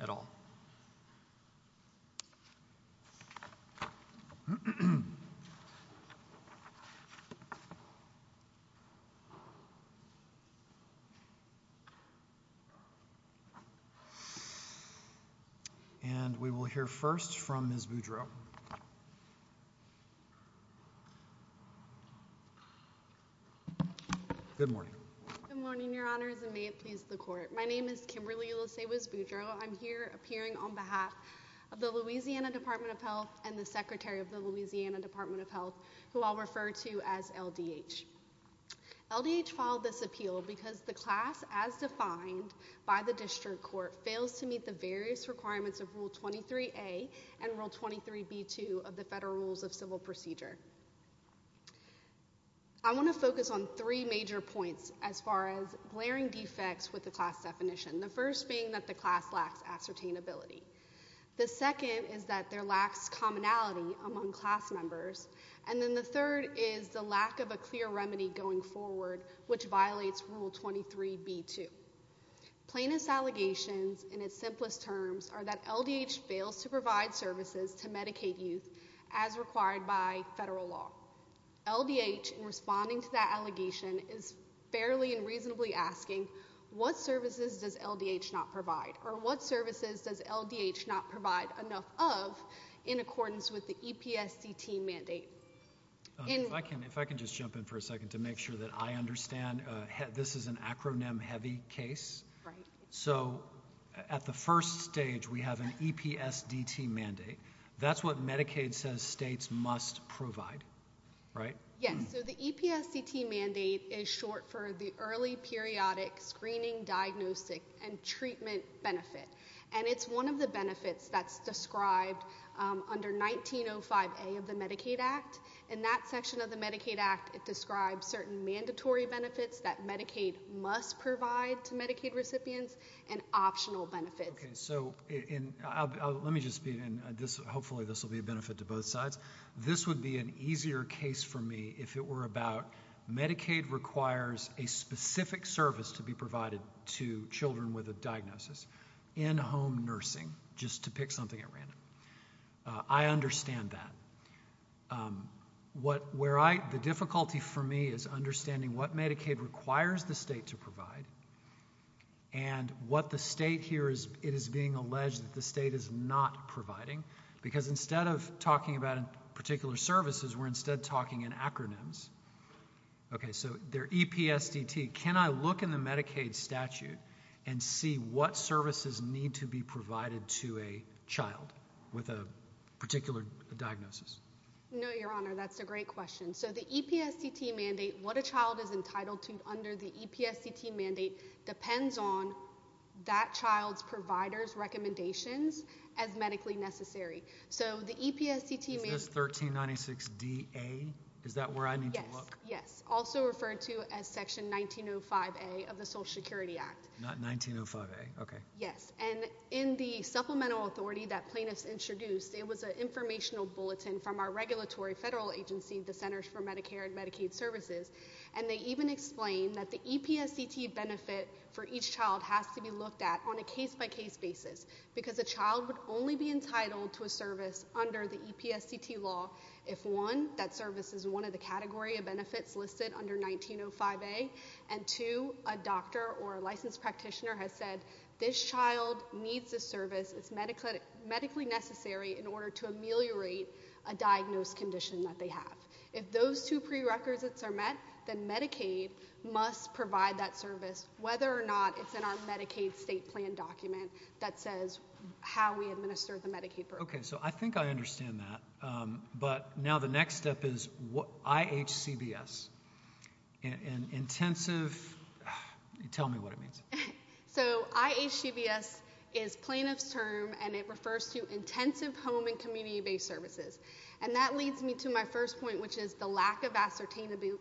at all. And we will hear first from Ms. Boudreaux. Good morning. Good morning, Your Honors, and may it please the Court. My name is Kimberly Ulusewis Boudreaux. I'm here appearing on behalf of the Louisiana Department of Health and the Secretary of the Louisiana Department of Health, who I'll refer to as LDH. LDH filed this appeal because the class, as defined by the District Court, fails to meet the various requirements of Rule 23a and Rule 23b-2 of the Federal Rules of Civil Procedure. I want to focus on three major points as far as glaring defects with the class definition, the first being that the class lacks ascertainability, the second is that there lacks commonality among class members, and then the third is the lack of a clear remedy going forward, which violates Rule 23b-2. Plaintiff's allegations in its simplest terms are that LDH fails to provide services to federal law. LDH, in responding to that allegation, is fairly and reasonably asking, what services does LDH not provide, or what services does LDH not provide enough of in accordance with the EPSDT mandate? If I can just jump in for a second to make sure that I understand, this is an acronym-heavy case. Right. So at the first stage, we have an EPSDT mandate. That's what Medicaid says states must provide. Right? Yes. So the EPSDT mandate is short for the Early Periodic Screening, Diagnostic, and Treatment Benefit, and it's one of the benefits that's described under 1905a of the Medicaid Act. In that section of the Medicaid Act, it describes certain mandatory benefits that Medicaid must provide to Medicaid recipients and optional benefits. Okay. So let me just speed in. Hopefully this will be a benefit to both sides. This would be an easier case for me if it were about Medicaid requires a specific service to be provided to children with a diagnosis, in-home nursing, just to pick something at random. I understand that. The difficulty for me is understanding what Medicaid requires the state to provide and what the state here is, it is being alleged that the state is not providing. Because instead of talking about particular services, we're instead talking in acronyms. Okay. So they're EPSDT. Can I look in the Medicaid statute and see what services need to be provided to a child with a particular diagnosis? No, Your Honor. That's a great question. So the EPSDT mandate, what a child is entitled to under the EPSDT mandate depends on that child's provider's recommendations as medically necessary. So the EPSDT mandate... Is this 1396DA? Is that where I need to look? Yes. Yes. Also referred to as section 1905a of the Social Security Act. Not 1905a. Okay. Yes. And in the supplemental authority that plaintiffs introduced, it was an informational bulletin from our regulatory federal agency, the Centers for Medicare and Medicaid Services. And they even explain that the EPSDT benefit for each child has to be looked at on a case-by-case basis because a child would only be entitled to a service under the EPSDT law if, one, that service is one of the category of benefits listed under 1905a, and, two, a doctor or a licensed practitioner has said, this child needs this service, it's medically necessary in order to ameliorate a diagnosed condition that they have. If those two prerequisites are met, then Medicaid must provide that service whether or not it's in our Medicaid state plan document that says how we administer the Medicaid program. Okay. So I think I understand that. But now the next step is IHCBS, an intensive... Tell me what it means. So IHCBS is plaintiff's term and it refers to intensive home and community-based services. And that leads me to my first point, which is the lack of ascertainability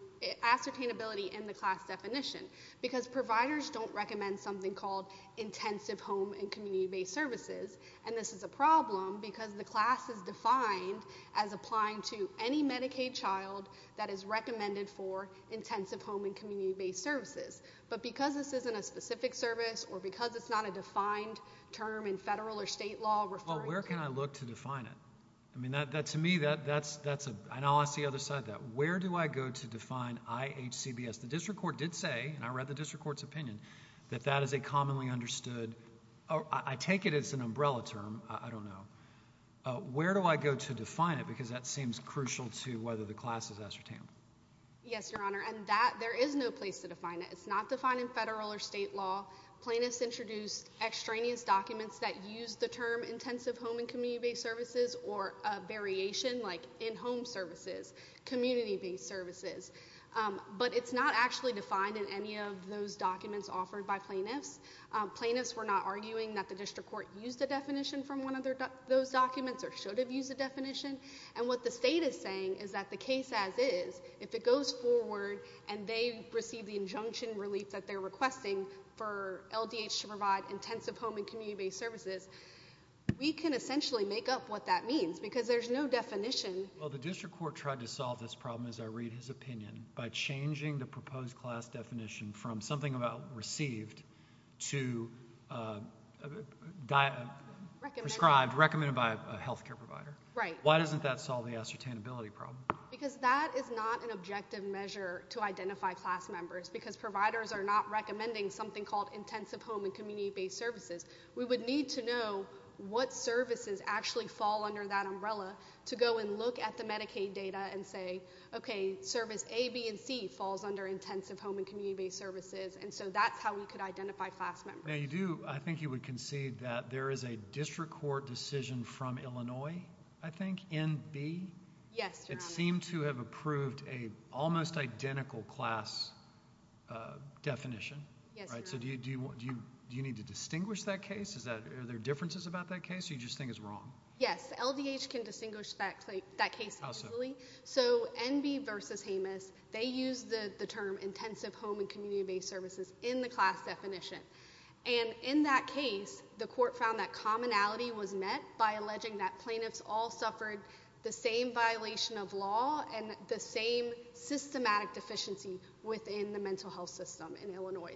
in the class definition. Because providers don't recommend something called intensive home and community-based services. And this is a problem because the class is defined as applying to any Medicaid child that is recommended for intensive home and community-based services. But because this isn't a specific service or because it's not a defined term in federal or state law referring to... Well, where can I look to define it? I mean, that, to me, that's a, and I'll ask the other side of that. Where do I go to define IHCBS? The district court did say, and I read the district court's opinion, that that is a commonly understood, I take it as an umbrella term, I don't know. Where do I go to define it? Because that seems crucial to whether the class is ascertainable. Yes, Your Honor. And that, there is no place to define it. It's not defined in federal or state law. Plaintiffs introduced extraneous documents that use the term intensive home and community-based services or a variation, like in-home services, community-based services. But it's not actually defined in any of those documents offered by plaintiffs. Plaintiffs were not arguing that the district court used a definition from one of those documents or should have used a definition. And what the state is saying is that the case as is, if it goes forward and they receive the injunction relief that they're requesting for LDH to provide intensive home and community-based services, we can essentially make up what that means because there's no definition. Well, the district court tried to solve this problem, as I read his opinion, by changing the proposed class definition from something about received to prescribed, recommended by a health care provider. Why doesn't that solve the ascertainability problem? Because that is not an objective measure to identify class members, because providers are not recommending something called intensive home and community-based services. We would need to know what services actually fall under that umbrella to go and look at the Medicaid data and say, okay, service A, B, and C falls under intensive home and community-based services. And so that's how we could identify class members. Now, you do, I think you would concede that there is a district court decision from Illinois, I think, in B. Yes, Your Honor. And it does seem to have approved an almost identical class definition, right? Yes, Your Honor. So do you need to distinguish that case? Are there differences about that case, or do you just think it's wrong? Yes, LDH can distinguish that case easily. So NB versus Jameis, they use the term intensive home and community-based services in the class definition. And in that case, the court found that commonality was met by alleging that plaintiffs all suffered the same violation of law and the same systematic deficiency within the mental health system in Illinois.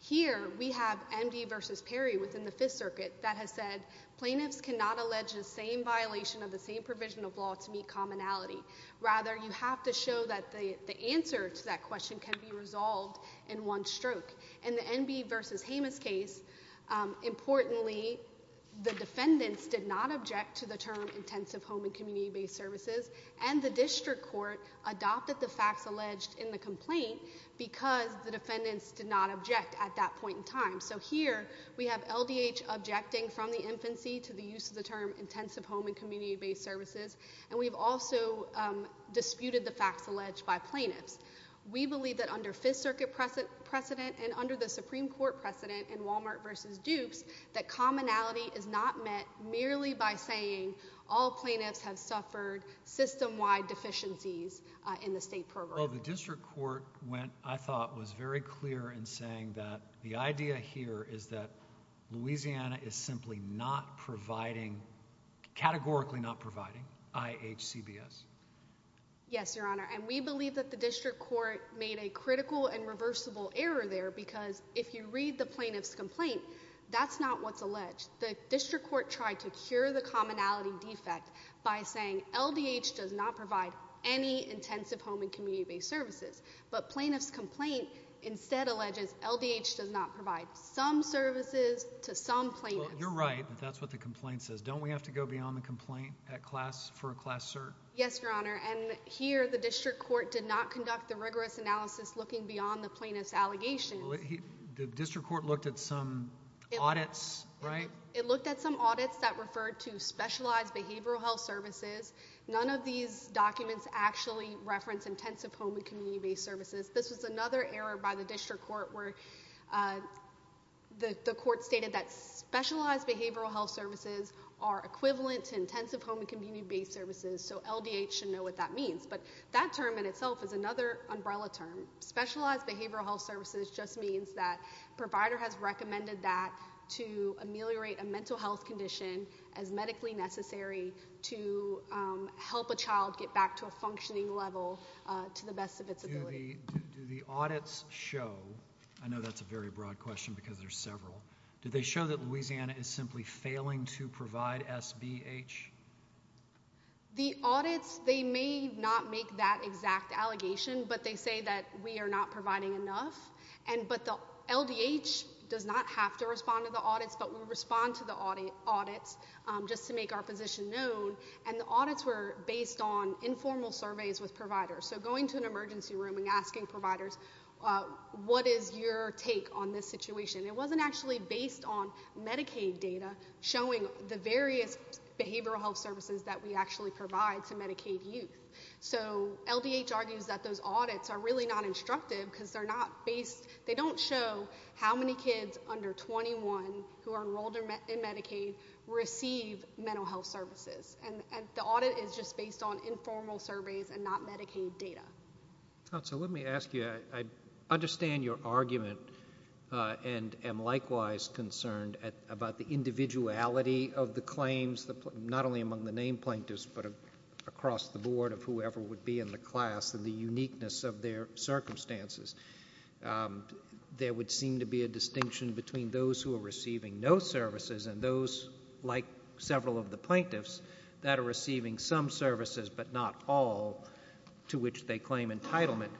Here, we have NB versus Perry within the Fifth Circuit that has said, plaintiffs cannot allege the same violation of the same provision of law to meet commonality. Rather, you have to show that the answer to that question can be resolved in one stroke. In the NB versus Jameis case, importantly, the defendants did not object to the term intensive home and community-based services, and the district court adopted the facts alleged in the complaint because the defendants did not object at that point in time. So here, we have LDH objecting from the infancy to the use of the term intensive home and community-based services, and we've also disputed the facts alleged by plaintiffs. We believe that under Fifth Circuit precedent and under the Supreme Court precedent in Walmart versus Dukes, that commonality is not met merely by saying all plaintiffs have suffered system-wide deficiencies in the state program. Well, the district court went, I thought, was very clear in saying that the idea here is that Louisiana is simply not providing, categorically not providing, IHCBS. Yes, Your Honor, and we believe that the district court made a critical and reversible error there because if you read the plaintiff's complaint, that's not what's alleged. The district court tried to cure the commonality defect by saying LDH does not provide any intensive home and community-based services, but plaintiff's complaint instead alleges LDH does not provide some services to some plaintiffs. You're right, but that's what the complaint says. Don't we have to go beyond the complaint for a class cert? Yes, Your Honor, and here, the district court did not conduct the rigorous analysis looking beyond the plaintiff's allegations. The district court looked at some audits, right? It looked at some audits that referred to specialized behavioral health services. None of these documents actually reference intensive home and community-based services. This was another error by the district court where the court stated that specialized behavioral health services are equivalent to intensive home and community-based services, so LDH should know what that means. That term in itself is another umbrella term. Specialized behavioral health services just means that the provider has recommended that to ameliorate a mental health condition as medically necessary to help a child get back to a functioning level to the best of its ability. Do the audits show, I know that's a very broad question because there's several, do they show that Louisiana is simply failing to provide SBH? The audits, they may not make that exact allegation, but they say that we are not providing enough, but the LDH does not have to respond to the audits, but we respond to the audits just to make our position known, and the audits were based on informal surveys with providers, so going to an emergency room and asking providers, what is your take on this situation? It wasn't actually based on Medicaid data showing the various behavioral health services that we actually provide to Medicaid youth, so LDH argues that those audits are really not instructive because they're not based, they don't show how many kids under 21 who are enrolled in Medicaid receive mental health services, and the audit is just based on informal surveys and not Medicaid data. Counsel, let me ask you, I understand your argument and am likewise concerned about the individuality of the claims, not only among the named plaintiffs, but across the board of whoever would be in the class and the uniqueness of their circumstances. There would seem to be a distinction between those who are receiving no services and those, like several of the plaintiffs, that are receiving some services but not all, to which they claim entitlement,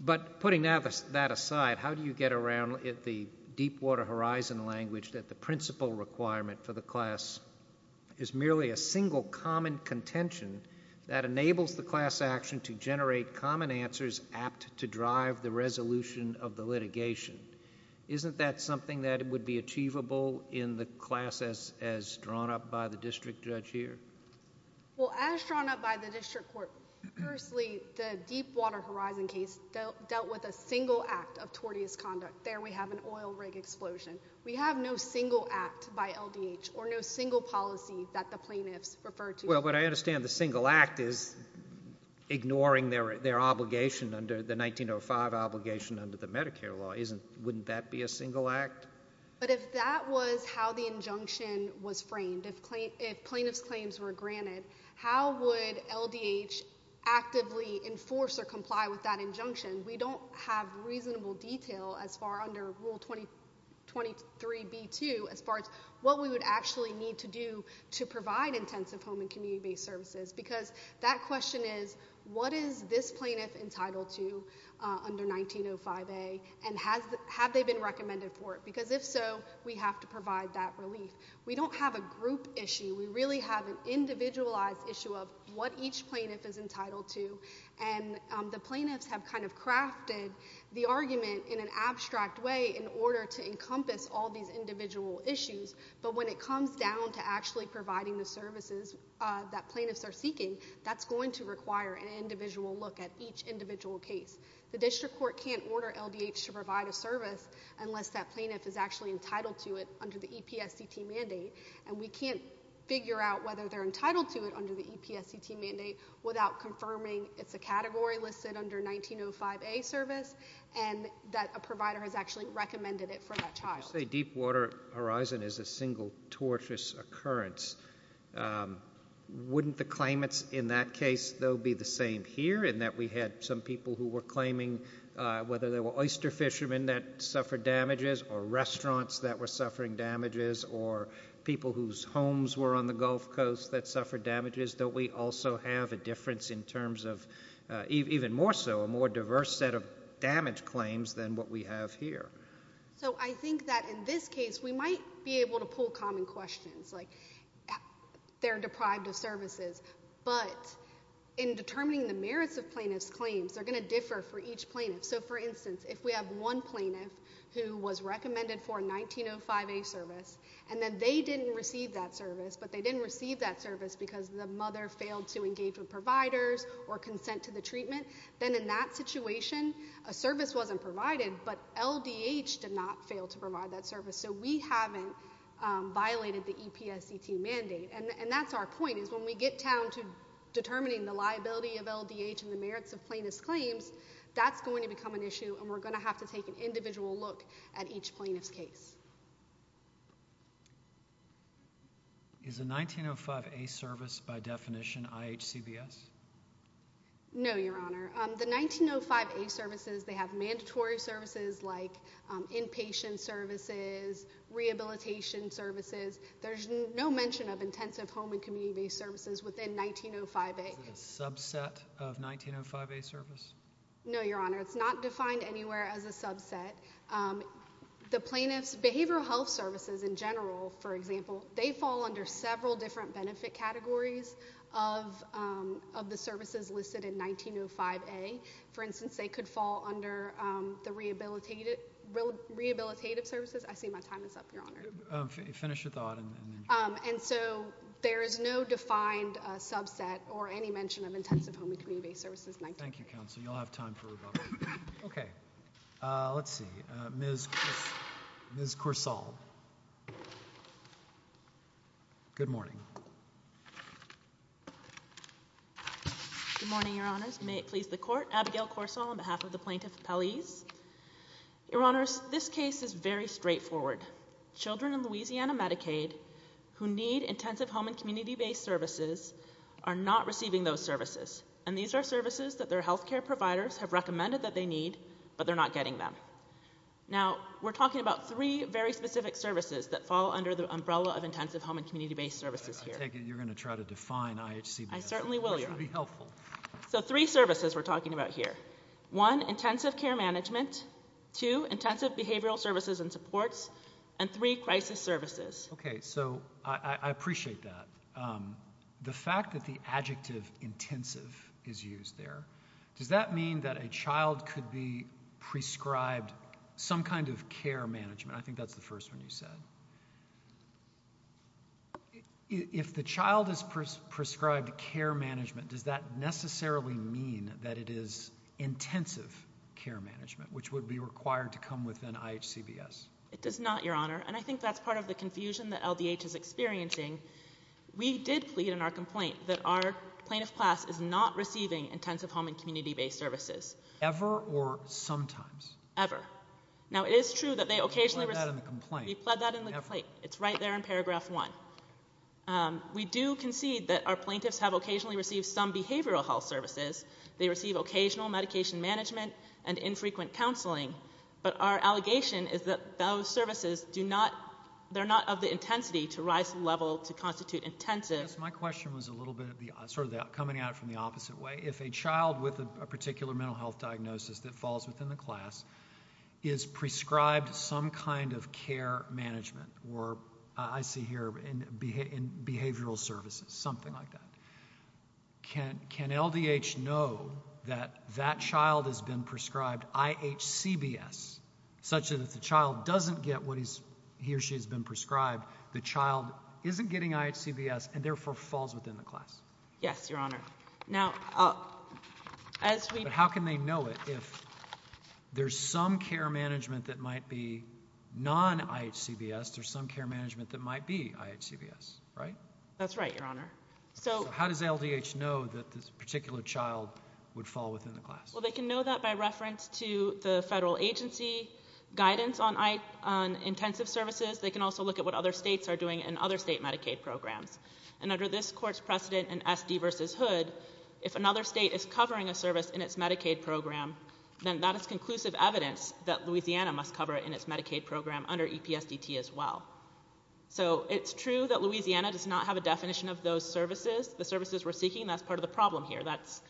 but putting that aside, how do you get around the Deepwater Horizon language that the principal requirement for the class is merely a single common contention that enables the class action to generate common answers apt to drive the resolution of the litigation? Isn't that something that would be achievable in the class as drawn up by the district judge here? Well, as drawn up by the district court, firstly, the Deepwater Horizon case dealt with a single act of tortious conduct. There we have an oil rig explosion. We have no single act by LDH or no single policy that the plaintiffs refer to. Well, but I understand the single act is ignoring their obligation under the 1905 obligation under the Medicare law. Wouldn't that be a single act? But if that was how the injunction was framed, if plaintiffs' claims were granted, how would LDH actively enforce or comply with that injunction? We don't have reasonable detail as far under Rule 23b-2 as far as what we would actually need to do to provide intensive home and community-based services because that question is, what is this plaintiff entitled to under 1905a, and have they been recommended for it? Because if so, we have to provide that relief. We don't have a group issue. We really have an individualized issue of what each plaintiff is entitled to. And the plaintiffs have kind of crafted the argument in an abstract way in order to encompass all these individual issues. But when it comes down to actually providing the services that plaintiffs are seeking, that's going to require an individual look at each individual case. The district court can't order LDH to provide a service unless that plaintiff is actually entitled to it under the EPSCT mandate. And we can't figure out whether they're entitled to it under the EPSCT mandate without confirming it's a category listed under 1905a service and that a provider has actually recommended it for that child. You say Deepwater Horizon is a single torturous occurrence. Wouldn't the claimants in that case, though, be the same here in that we had some people who were claiming whether they were oyster fishermen that suffered damages or restaurants that were suffering damages or people whose homes were on the Gulf Coast that suffered damages, don't we also have a difference in terms of even more so, a more diverse set of damage claims than what we have here? So I think that in this case, we might be able to pull common questions, like they're deprived of services, but in determining the merits of plaintiff's claims, they're going to differ for each plaintiff. So for instance, if we have one plaintiff who was recommended for 1905a service, and then they didn't receive that service, but they didn't receive that service because the mother failed to engage with providers or consent to the treatment, then in that situation, a service wasn't provided, but LDH did not fail to provide that service. So we haven't violated the EPSCT mandate. And that's our point is when we get down to determining the liability of LDH and the merits of plaintiff's claims, that's going to become an issue and we're going to have to take an individual look at each plaintiff's case. Is the 1905a service, by definition, IHCBS? No, Your Honor. The 1905a services, they have mandatory services like inpatient services, rehabilitation services. There's no mention of intensive home and community-based services within 1905a. Is it a subset of 1905a service? No, Your Honor. It's not defined anywhere as a subset. The plaintiff's behavioral health services in general, for example, they fall under several different benefit categories of the services listed in 1905a. For instance, they could fall under the rehabilitative services. I see my time is up, Your Honor. Finish your thought and then... And so there is no defined subset or any mention of intensive home and community-based services in 1905a. Thank you, Counsel. You'll have time for rebuttal. Okay. Let's see. Ms. Corsall. Good morning. Good morning, Your Honors. May it please the Court. Abigail Corsall on behalf of the plaintiff's appellees. Your Honors, this case is very straightforward. Children in Louisiana Medicaid who need intensive home and community-based services are not receiving those services. And these are services that their healthcare providers have recommended that they need, but they're not getting them. Now we're talking about three very specific services that fall under the umbrella of intensive home and community-based services here. I take it you're going to try to define IHCBF. I certainly will, Your Honor. Which would be helpful. So three services we're talking about here. One, intensive care management. Two, intensive behavioral services and supports. And three, crisis services. Okay. So I appreciate that. The fact that the adjective intensive is used there, does that mean that a child could be prescribed some kind of care management? I think that's the first one you said. If the child is prescribed care management, does that necessarily mean that it is intensive care management, which would be required to come within IHCBS? It does not, Your Honor. And I think that's part of the confusion that LDH is experiencing. We did plead in our complaint that our plaintiff's class is not receiving intensive home and community-based services. Ever or sometimes? Ever. Ever. Now, it is true that they occasionally receive... We pled that in the complaint. We pled that in the complaint. It's right there in paragraph one. We do concede that our plaintiffs have occasionally received some behavioral health services. They receive occasional medication management and infrequent counseling. But our allegation is that those services do not, they're not of the intensity to rise to the level to constitute intensive. Yes, my question was a little bit of the, sort of coming at it from the opposite way. If a child with a particular mental health diagnosis that falls within the class is prescribed some kind of care management, or I see here in behavioral services, something like that, can LDH know that that child has been prescribed IHCBS, such that if the child doesn't get what he or she has been prescribed, the child isn't getting IHCBS and therefore falls within the class? Yes, Your Honor. Now, as we... But how can they know it if there's some care management that might be non-IHCBS, there's some care management that might be IHCBS, right? That's right, Your Honor. So... So how does LDH know that this particular child would fall within the class? Well, they can know that by reference to the federal agency guidance on intensive services. They can also look at what other states are doing in other state Medicaid programs. And under this court's precedent in SD versus Hood, if another state is covering a service in its Medicaid program, then that is conclusive evidence that Louisiana must cover it in its Medicaid program under EPSDT as well. So it's true that Louisiana does not have a definition of those services, the services we're seeking. That's part of the problem here. That's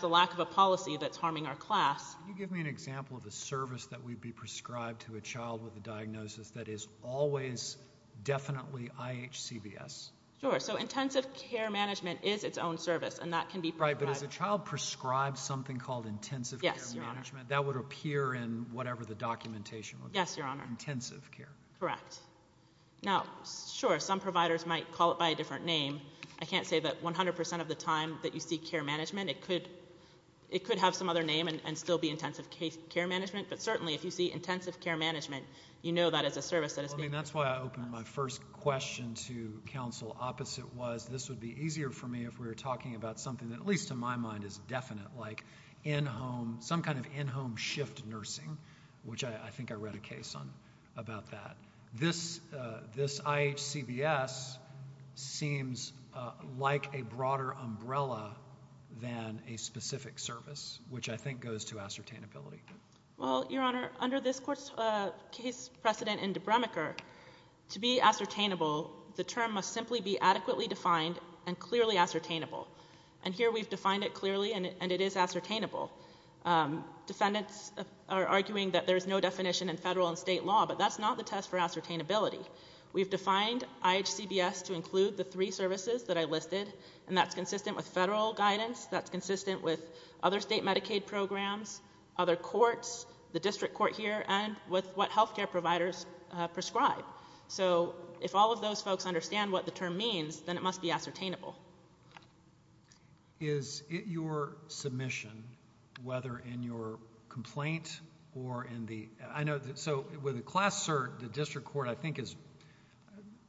the lack of a policy that's harming our class. Can you give me an example of a service that would be prescribed to a child with a diagnosis that is always definitely IHCBS? Sure. So intensive care management is its own service, and that can be prescribed. Right, but if a child prescribes something called intensive care management, that would appear in whatever the documentation would be. Yes, Your Honor. Intensive care. Correct. Now, sure, some providers might call it by a different name. I can't say that 100% of the time that you see care management, it could have some other name and still be intensive care management, but certainly if you see intensive care management, you know that is a service that is being prescribed. I mean, that's why I opened my first question to counsel opposite was this would be easier for me if we were talking about something that, at least to my mind, is definite, like some kind of in-home shift nursing, which I think I read a case on about that. This IHCBS seems like a broader umbrella than a specific service, which I think goes to ascertainability. Well, Your Honor, under this court's case precedent in Debremerker, to be ascertainable, the term must simply be adequately defined and clearly ascertainable. And here we've defined it clearly, and it is ascertainable. Defendants are arguing that there's no definition in federal and state law, but that's not the test for ascertainability. We've defined IHCBS to include the three services that I listed, and that's consistent with the courts, the district court here, and with what health care providers prescribe. So if all of those folks understand what the term means, then it must be ascertainable. Is your submission, whether in your complaint or in the, I know that, so with a class cert, the district court I think is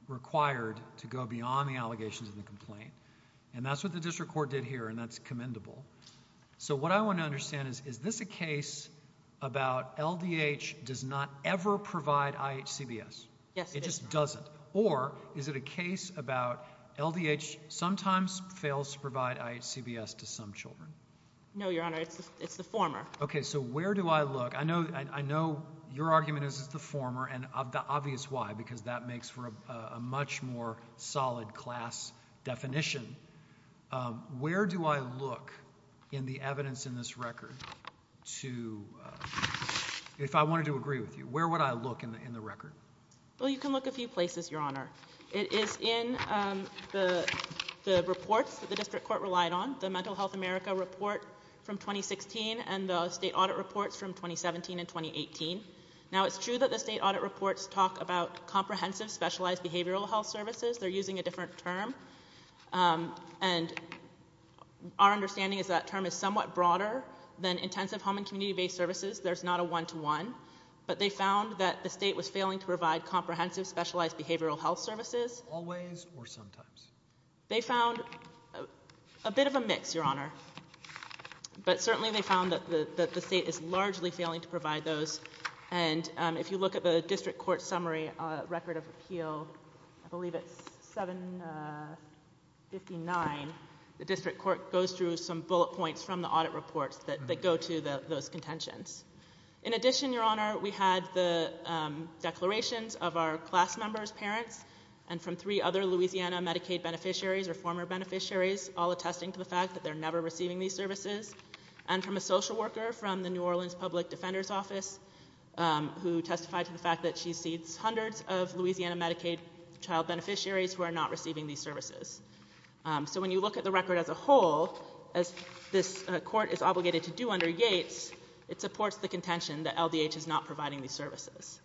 required to go beyond the allegations of the complaint, and that's what the district court did here, and that's commendable. So what I want to understand is, is this a case about LDH does not ever provide IHCBS? Yes. It just doesn't? Or is it a case about LDH sometimes fails to provide IHCBS to some children? No, Your Honor. It's the former. Okay. So where do I look? I know, I know your argument is it's the former, and the obvious why, because that makes for a much more solid class definition. Where do I look in the evidence in this record to, if I wanted to agree with you, where would I look in the record? Well, you can look a few places, Your Honor. It is in the reports that the district court relied on, the Mental Health America report from 2016 and the state audit reports from 2017 and 2018. Now it's true that the state audit reports talk about comprehensive specialized behavioral health services. They're using a different term, and our understanding is that term is somewhat broader than intensive home and community-based services. There's not a one-to-one. But they found that the state was failing to provide comprehensive specialized behavioral health services. Always or sometimes? They found a bit of a mix, Your Honor. But certainly they found that the state is largely failing to provide those, and if you look at the district court summary record of appeal, I believe it's 759, the district court goes through some bullet points from the audit reports that go to those contentions. In addition, Your Honor, we had the declarations of our class members, parents, and from three other Louisiana Medicaid beneficiaries or former beneficiaries, all attesting to the fact that they're never receiving these services, and from a social worker from the New Orleans Public Defender's Office who testified to the fact that she sees hundreds of Louisiana Medicaid child beneficiaries who are not receiving these services. So when you look at the record as a whole, as this court is obligated to do under Yates, it supports the contention that LDH is not providing these services.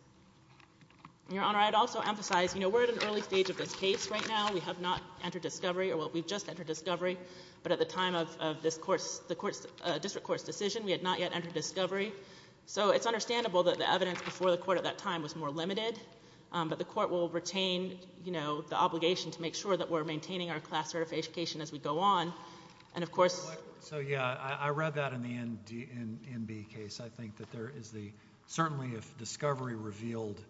Your Honor, I'd also emphasize, you know, we're at an early stage of this case right now. We have not entered discovery, or we've just entered discovery, but at the time of this court's, the court's, district court's decision, we had not yet entered discovery. So it's understandable that the evidence before the court at that time was more limited, but the court will retain, you know, the obligation to make sure that we're maintaining our class certification as we go on, and of course. So yeah, I read that in the NB case. I think that there is the, certainly if discovery revealed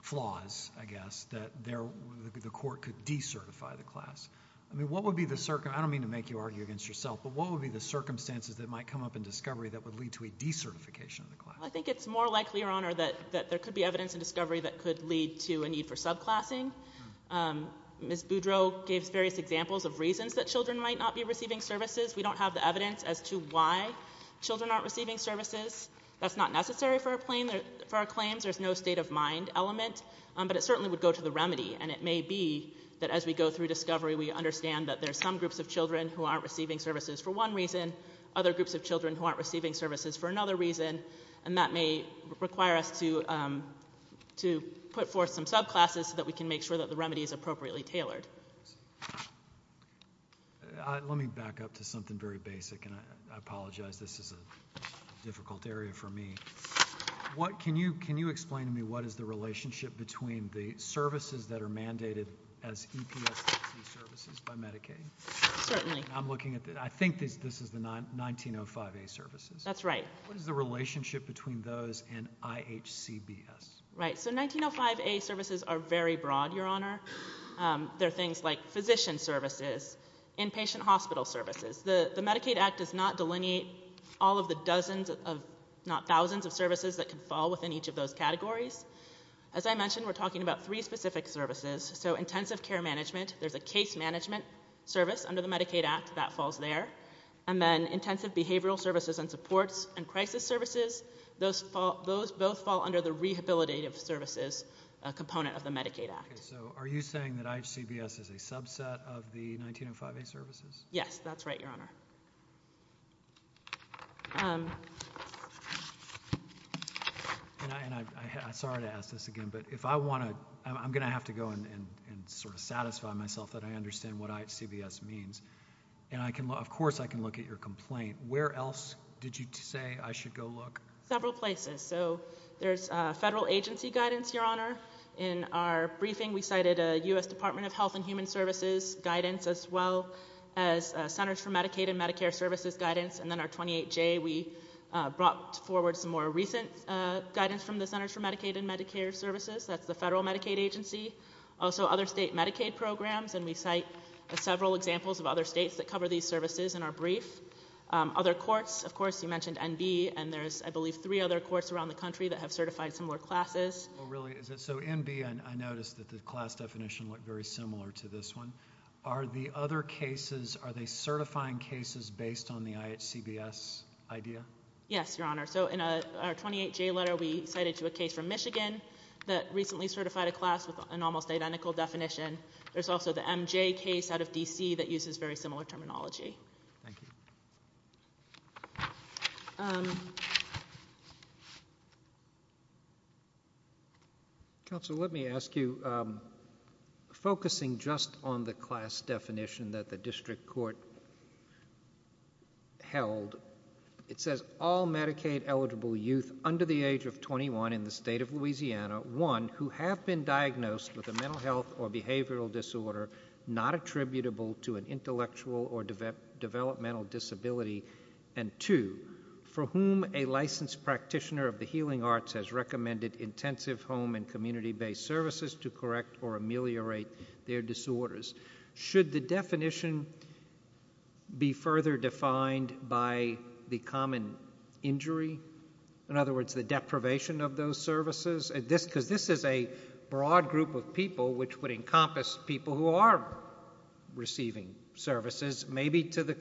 flaws, I guess, that the court could decertify the class. I mean, what would be the, I don't mean to make you argue against yourself, but what would be the circumstances that might come up in discovery that would lead to a decertification of the class? Well, I think it's more likely, Your Honor, that there could be evidence in discovery that could lead to a need for subclassing. Ms. Boudreau gave various examples of reasons that children might not be receiving services. We don't have the evidence as to why children aren't receiving services. That's not necessary for our claims. There's no state of mind element, but it certainly would go to the remedy, and it may be that as we go through discovery, we understand that there's some groups of children who aren't receiving services for one reason, other groups of children who aren't receiving services for another reason, and that may require us to put forth some subclasses so that we can make sure that the remedy is appropriately tailored. Let me back up to something very basic, and I apologize. This is a difficult area for me. Can you explain to me what is the relationship between the services that are mandated as EPSDT services by Medicaid? Certainly. I'm looking at the, I think this is the 1905A services. That's right. What is the relationship between those and IHCBS? Right. So 1905A services are very broad, Your Honor. They're things like physician services, inpatient hospital services. The Medicaid Act does not delineate all of the dozens of, not thousands of services that can fall within each of those categories. As I mentioned, we're talking about three specific services. So intensive care management, there's a case management service under the Medicaid Act that falls there. And then intensive behavioral services and supports and crisis services, those both fall under the rehabilitative services component of the Medicaid Act. Okay. So are you saying that IHCBS is a subset of the 1905A services? Yes. That's right, Your Honor. And I'm sorry to ask this again, but if I want to, I'm going to have to go and sort of satisfy myself that I understand what IHCBS means. And I can, of course, I can look at your complaint. Where else did you say I should go look? Several places. So there's federal agency guidance, Your Honor. In our briefing, we cited a U.S. Department of Health and Human Services guidance as well as Centers for Medicaid and Medicare Services guidance. And then our 28J, we brought forward some more recent guidance from the Centers for Medicaid and Medicare Services. That's the federal Medicaid agency. Also other state Medicaid programs, and we cite several examples of other states that cover these services in our brief. Other courts, of course, you mentioned NB, and there's, I believe, three other courts around the country that have certified similar classes. Oh, really? Is it so? NB, I noticed that the class definition looked very similar to this one. Are the other cases, are they certifying cases based on the IHCBS idea? Yes, Your Honor. So in our 28J letter, we cited to a case from Michigan that recently certified a class with an almost identical definition. There's also the MJ case out of D.C. that uses very similar terminology. Thank you. Counsel, let me ask you, focusing just on the class definition that the district court held, it says, all Medicaid-eligible youth under the age of 21 in the state of Louisiana, one, who have been diagnosed with a mental health or behavioral disorder not attributable to an intellectual or developmental disability, and two, for whom a licensed practitioner of the healing arts has recommended intensive home and community-based services to correct or ameliorate their disorders. Should the definition be further defined by the common injury, in other words, the deprivation of those services, because this is a broad group of people which would encompass people who are receiving services, maybe to their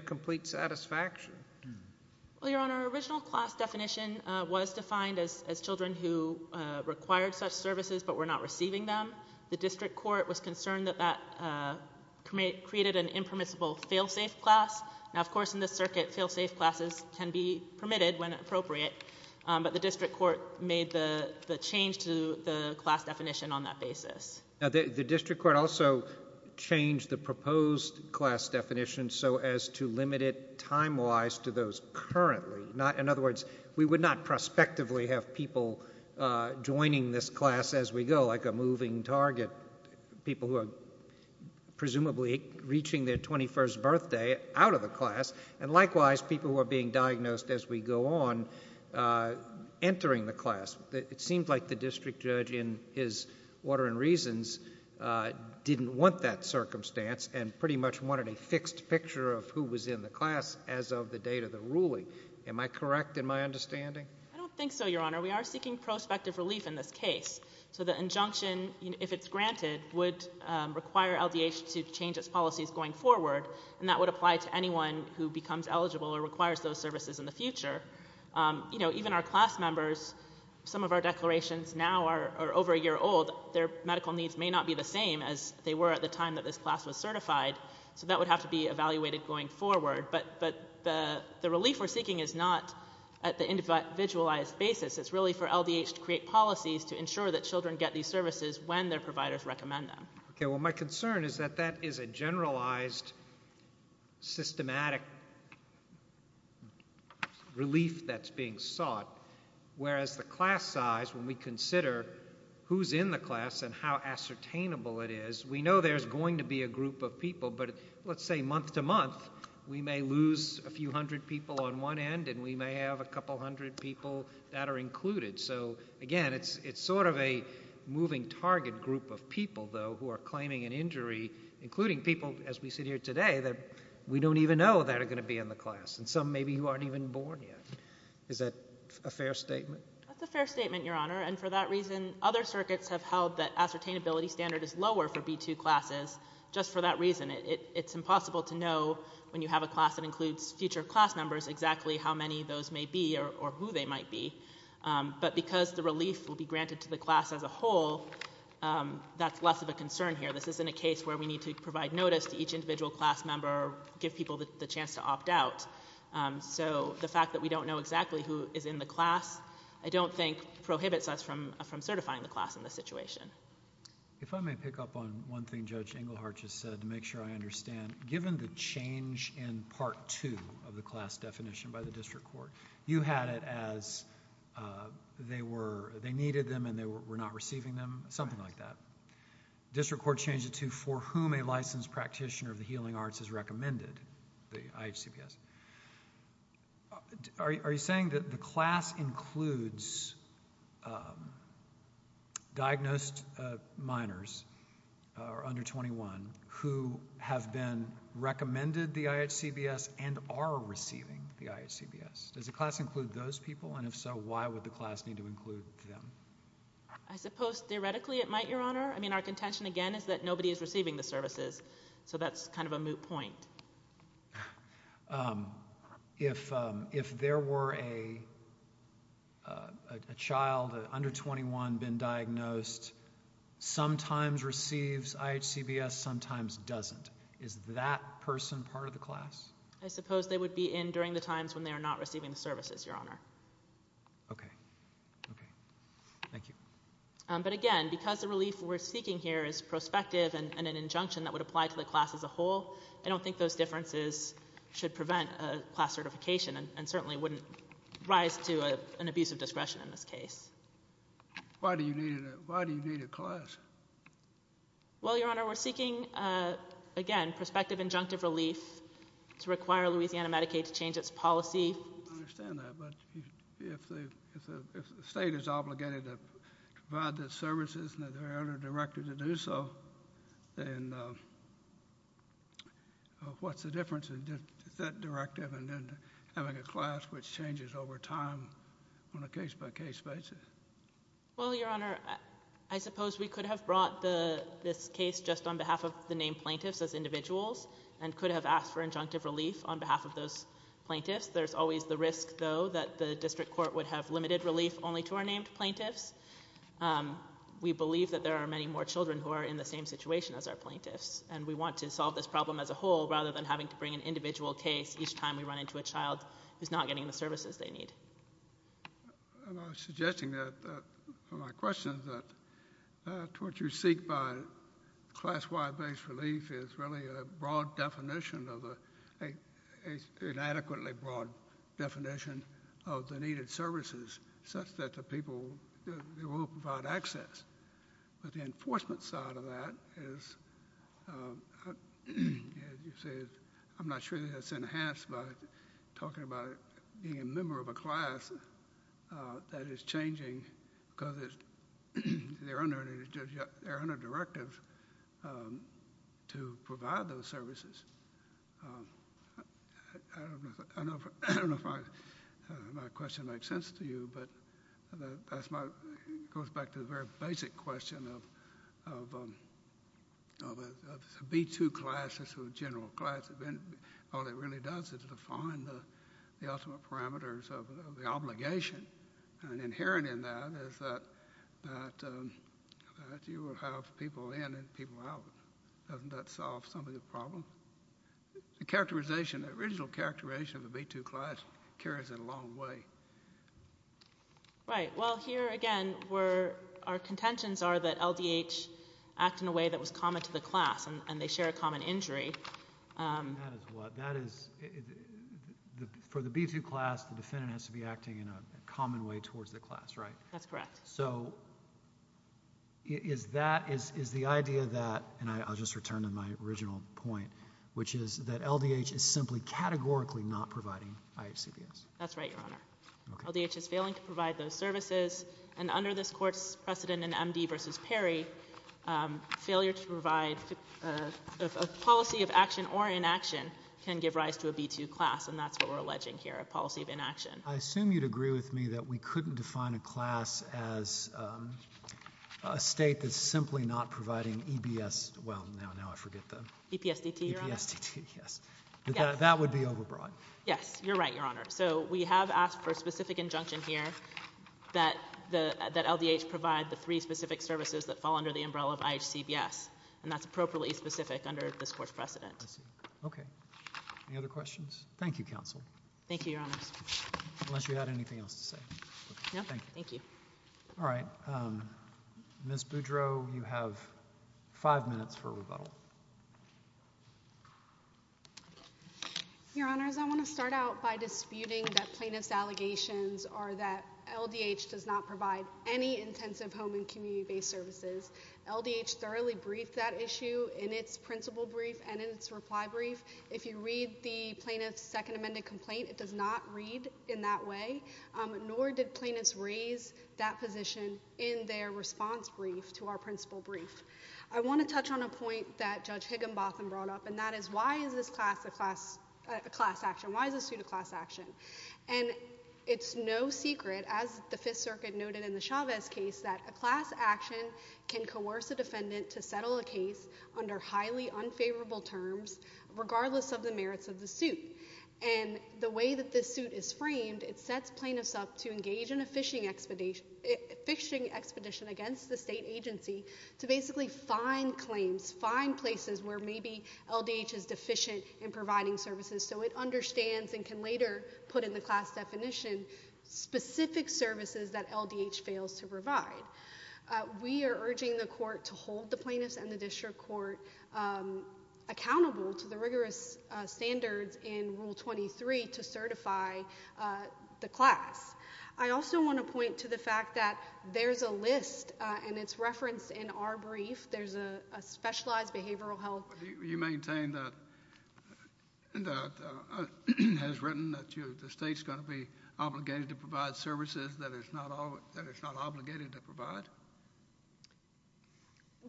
complete satisfaction? Well, Your Honor, our original class definition was defined as children who required such services but were not receiving them. The district court was concerned that that created an impermissible fail-safe class. Now, of course, in this circuit, fail-safe classes can be permitted when appropriate, but the district court made the change to the class definition on that basis. Now, the district court also changed the proposed class definition so as to limit it time-wise to those currently, in other words, we would not prospectively have people joining this class as we go, like a moving target, people who are presumably reaching their 21st birthday out of the class, and likewise, people who are being diagnosed as we go on entering the class. It seems like the district judge, in his order and reasons, didn't want that circumstance and pretty much wanted a fixed picture of who was in the class as of the date of the ruling. Am I correct in my understanding? I don't think so, Your Honor. We are seeking prospective relief in this case. So the injunction, if it's granted, would require LDH to change its policies going forward, and that would apply to anyone who becomes eligible or requires those services in the future. You know, even our class members, some of our declarations now are over a year old. Their medical needs may not be the same as they were at the time that this class was certified, so that would have to be evaluated going forward, but the relief we're seeking is not at the individualized basis. It's really for LDH to create policies to ensure that children get these services when their providers recommend them. Okay, well, my concern is that that is a generalized, systematic relief that's being sought, whereas the class size, when we consider who's in the class and how ascertainable it is, we know there's going to be a group of people, but let's say month to month, we may lose a few hundred people on one end and we may have a couple hundred people that are included. So, again, it's sort of a moving target group of people, though, who are claiming an injury, including people, as we sit here today, that we don't even know that are going to be in the class, and some maybe who aren't even born yet. Is that a fair statement? That's a fair statement, Your Honor, and for that reason, other circuits have held that ascertainability standard is lower for B2 classes just for that reason. It's impossible to know when you have a class that includes future class numbers exactly how many of those may be or who they might be, but because the relief will be granted to the class as a whole, that's less of a concern here. This isn't a case where we need to provide notice to each individual class member or give people the chance to opt out, so the fact that we don't know exactly who is in the class, I don't think prohibits us from certifying the class in this situation. If I may pick up on one thing Judge Engelhardt just said to make sure I understand. Given the change in part two of the class definition by the district court, you had it as they needed them and they were not receiving them, something like that. The district court changed it to for whom a licensed practitioner of the healing arts is recommended, the IHCPS. Are you saying that the class includes diagnosed minors or under 21 who have been recommended the IHCPS and are receiving the IHCPS? Does the class include those people and if so, why would the class need to include them? I suppose theoretically it might, Your Honor. I mean, our contention again is that nobody is receiving the services, so that's kind of a moot point. If there were a child under 21 been diagnosed, sometimes receives IHCPS, sometimes doesn't. Is that person part of the class? I suppose they would be in during the times when they are not receiving the services, Your Honor. Okay. Okay. Thank you. But again, because the relief we're seeking here is prospective and an injunction that would apply to the class as a whole, I don't think those differences should prevent a class certification and certainly wouldn't rise to an abuse of discretion in this case. Why do you need a class? Well, Your Honor, we're seeking, again, prospective injunctive relief to require Louisiana Medicaid to change its policy. I understand that, but if the state is obligated to provide the services and the elder director to do so, then what's the difference in that directive and then having a class which changes over time on a case-by-case basis? Well, Your Honor, I suppose we could have brought this case just on behalf of the named plaintiffs as individuals and could have asked for injunctive relief on behalf of those plaintiffs. There's always the risk, though, that the district court would have limited relief only to our named plaintiffs. We believe that there are many more children who are in the same situation as our plaintiffs, and we want to solve this problem as a whole rather than having to bring an individual case each time we run into a child who's not getting the services they need. I was suggesting that, from my questions, that what you seek by class-wide-based relief is really a broad definition of a—an adequately broad definition of the needed services such that the people—they will provide access, but the enforcement side of that is, as you say, I'm not sure that that's enhanced by talking about being a member of a class that is changing because it's—there are under—there are under directives to provide those services. I don't know if my question makes sense to you, but that's my—goes back to the very basic question of a B-2 class or a general class, all it really does is define the ultimate parameters of the obligation, and inherent in that is that you will have people in and people out. Doesn't that solve some of the problem? The characterization, the original characterization of a B-2 class carries in a long way. Right. Well, here again, where our contentions are that LDH act in a way that was common to the class and they share a common injury. That is what—that is—for the B-2 class, the defendant has to be acting in a common way towards the class, right? That's correct. So is that—is the idea that—and I'll just return to my original point, which is that LDH is simply categorically not providing IHCBS? That's right, Your Honor. Okay. LDH is failing to provide those services, and under this Court's precedent in M.D. v. Perry, failure to provide a policy of action or inaction can give rise to a B-2 class, and that's what we're alleging here, a policy of inaction. I assume you'd agree with me that we couldn't define a class as a state that's simply not providing EBS—well, now I forget the— EPSDT, Your Honor. EPSDT, yes. Yes. That would be overbroad. Yes. You're right, Your Honor. So we have asked for a specific injunction here that the—that LDH provide the three specific services that fall under the umbrella of IHCBS, and that's appropriately specific under this Court's precedent. I see. Okay. Any other questions? Thank you, Counsel. Thank you, Your Honors. Unless you had anything else to say. No. Thank you. Thank you. All right. Ms. Boudreau, you have five minutes for rebuttal. Your Honors, I want to start out by disputing that plaintiff's allegations are that LDH does not provide any intensive home and community-based services. LDH thoroughly briefed that issue in its principle brief and in its reply brief. If you read the plaintiff's second amended complaint, it does not read in that way, nor did plaintiffs raise that position in their response brief to our principle brief. I want to touch on a point that Judge Higginbotham brought up, and that is why is this class a class—a class action? Why is this suit a class action? And it's no secret, as the Fifth Circuit noted in the Chavez case, that a class action can regardless of the merits of the suit. And the way that this suit is framed, it sets plaintiffs up to engage in a phishing expedition against the state agency to basically find claims, find places where maybe LDH is deficient in providing services so it understands and can later put in the class definition specific services that LDH fails to provide. We are urging the court to hold the plaintiffs and the district court accountable to the rigorous standards in Rule 23 to certify the class. I also want to point to the fact that there's a list, and it's referenced in our brief, there's a specialized behavioral health— You maintain that—has written that the state's going to be obligated to provide services that it's not obligated to provide?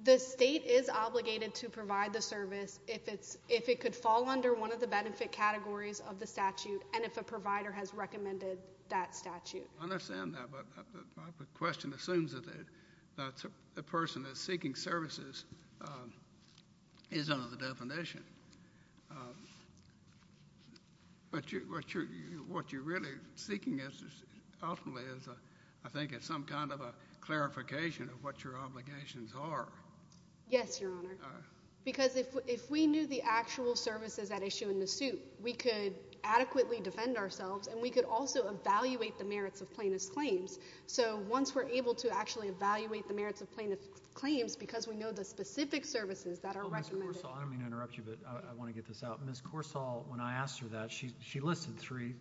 The state is obligated to provide the service if it's—if it could fall under one of the benefit categories of the statute and if a provider has recommended that statute. I understand that, but my question assumes that the person that's seeking services is under the definition. But what you're really seeking is, ultimately, I think it's some kind of a clarification of what your obligations are. Yes, Your Honor, because if we knew the actual services at issue in the suit, we could adequately defend ourselves and we could also evaluate the merits of plaintiff's claims. So once we're able to actually evaluate the merits of plaintiff's claims because we know the specific services that are recommended— Ms. Corsall, I don't mean to interrupt you, but I want to get this out. Ms. Corsall, when I asked her that, she listed three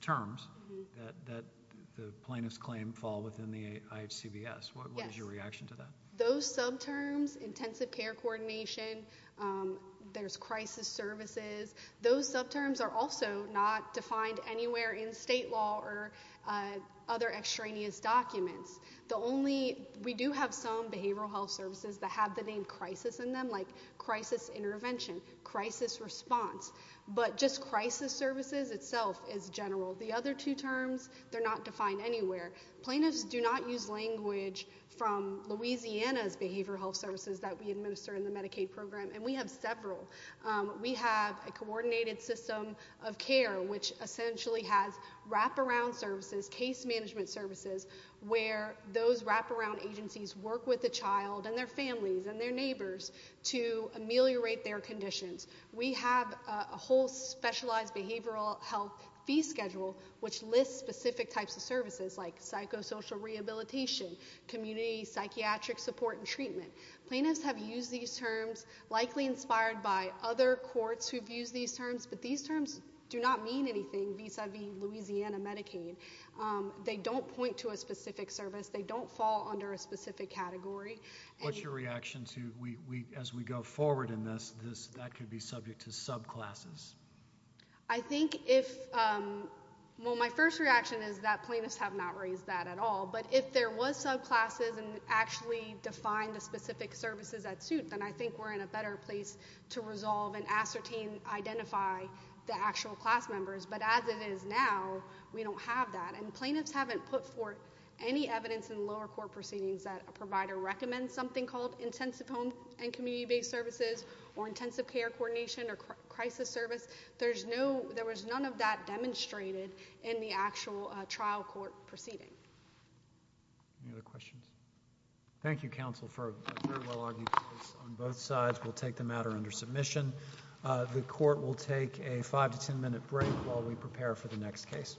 terms that the plaintiff's claim fall within the IHCBS. Yes. What is your reaction to that? Those subterms, intensive care coordination, there's crisis services, those subterms are also not defined anywhere in state law or other extraneous documents. The only—we do have some behavioral health services that have the name crisis in them, like crisis intervention, crisis response, but just crisis services itself is general. The other two terms, they're not defined anywhere. Plaintiffs do not use language from Louisiana's behavioral health services that we administer in the Medicaid program, and we have several. We have a coordinated system of care, which essentially has wraparound services, case management services, where those wraparound agencies work with the child and their families and their neighbors to ameliorate their conditions. We have a whole specialized behavioral health fee schedule, which lists specific types of services, like psychosocial rehabilitation, community psychiatric support and treatment. Plaintiffs have used these terms, likely inspired by other courts who've used these terms, but these terms do not mean anything vis-a-vis Louisiana Medicaid. They don't point to a specific service. They don't fall under a specific category. What's your reaction to—as we go forward in this, that could be subject to subclasses? I think if—well, my first reaction is that plaintiffs have not raised that at all, but if there was subclasses and actually defined the specific services that suit, then I think we're in a better place to resolve and ascertain, identify the actual class members. But as it is now, we don't have that, and plaintiffs haven't put forth any evidence in lower court proceedings that a provider recommends something called intensive home and community-based services or intensive care coordination or crisis service. There's no—there was none of that demonstrated in the actual trial court proceeding. Any other questions? Thank you, counsel, for a very well-argued case on both sides. We'll take the matter under submission. The court will take a five to ten-minute break while we prepare for the next case. Thank you.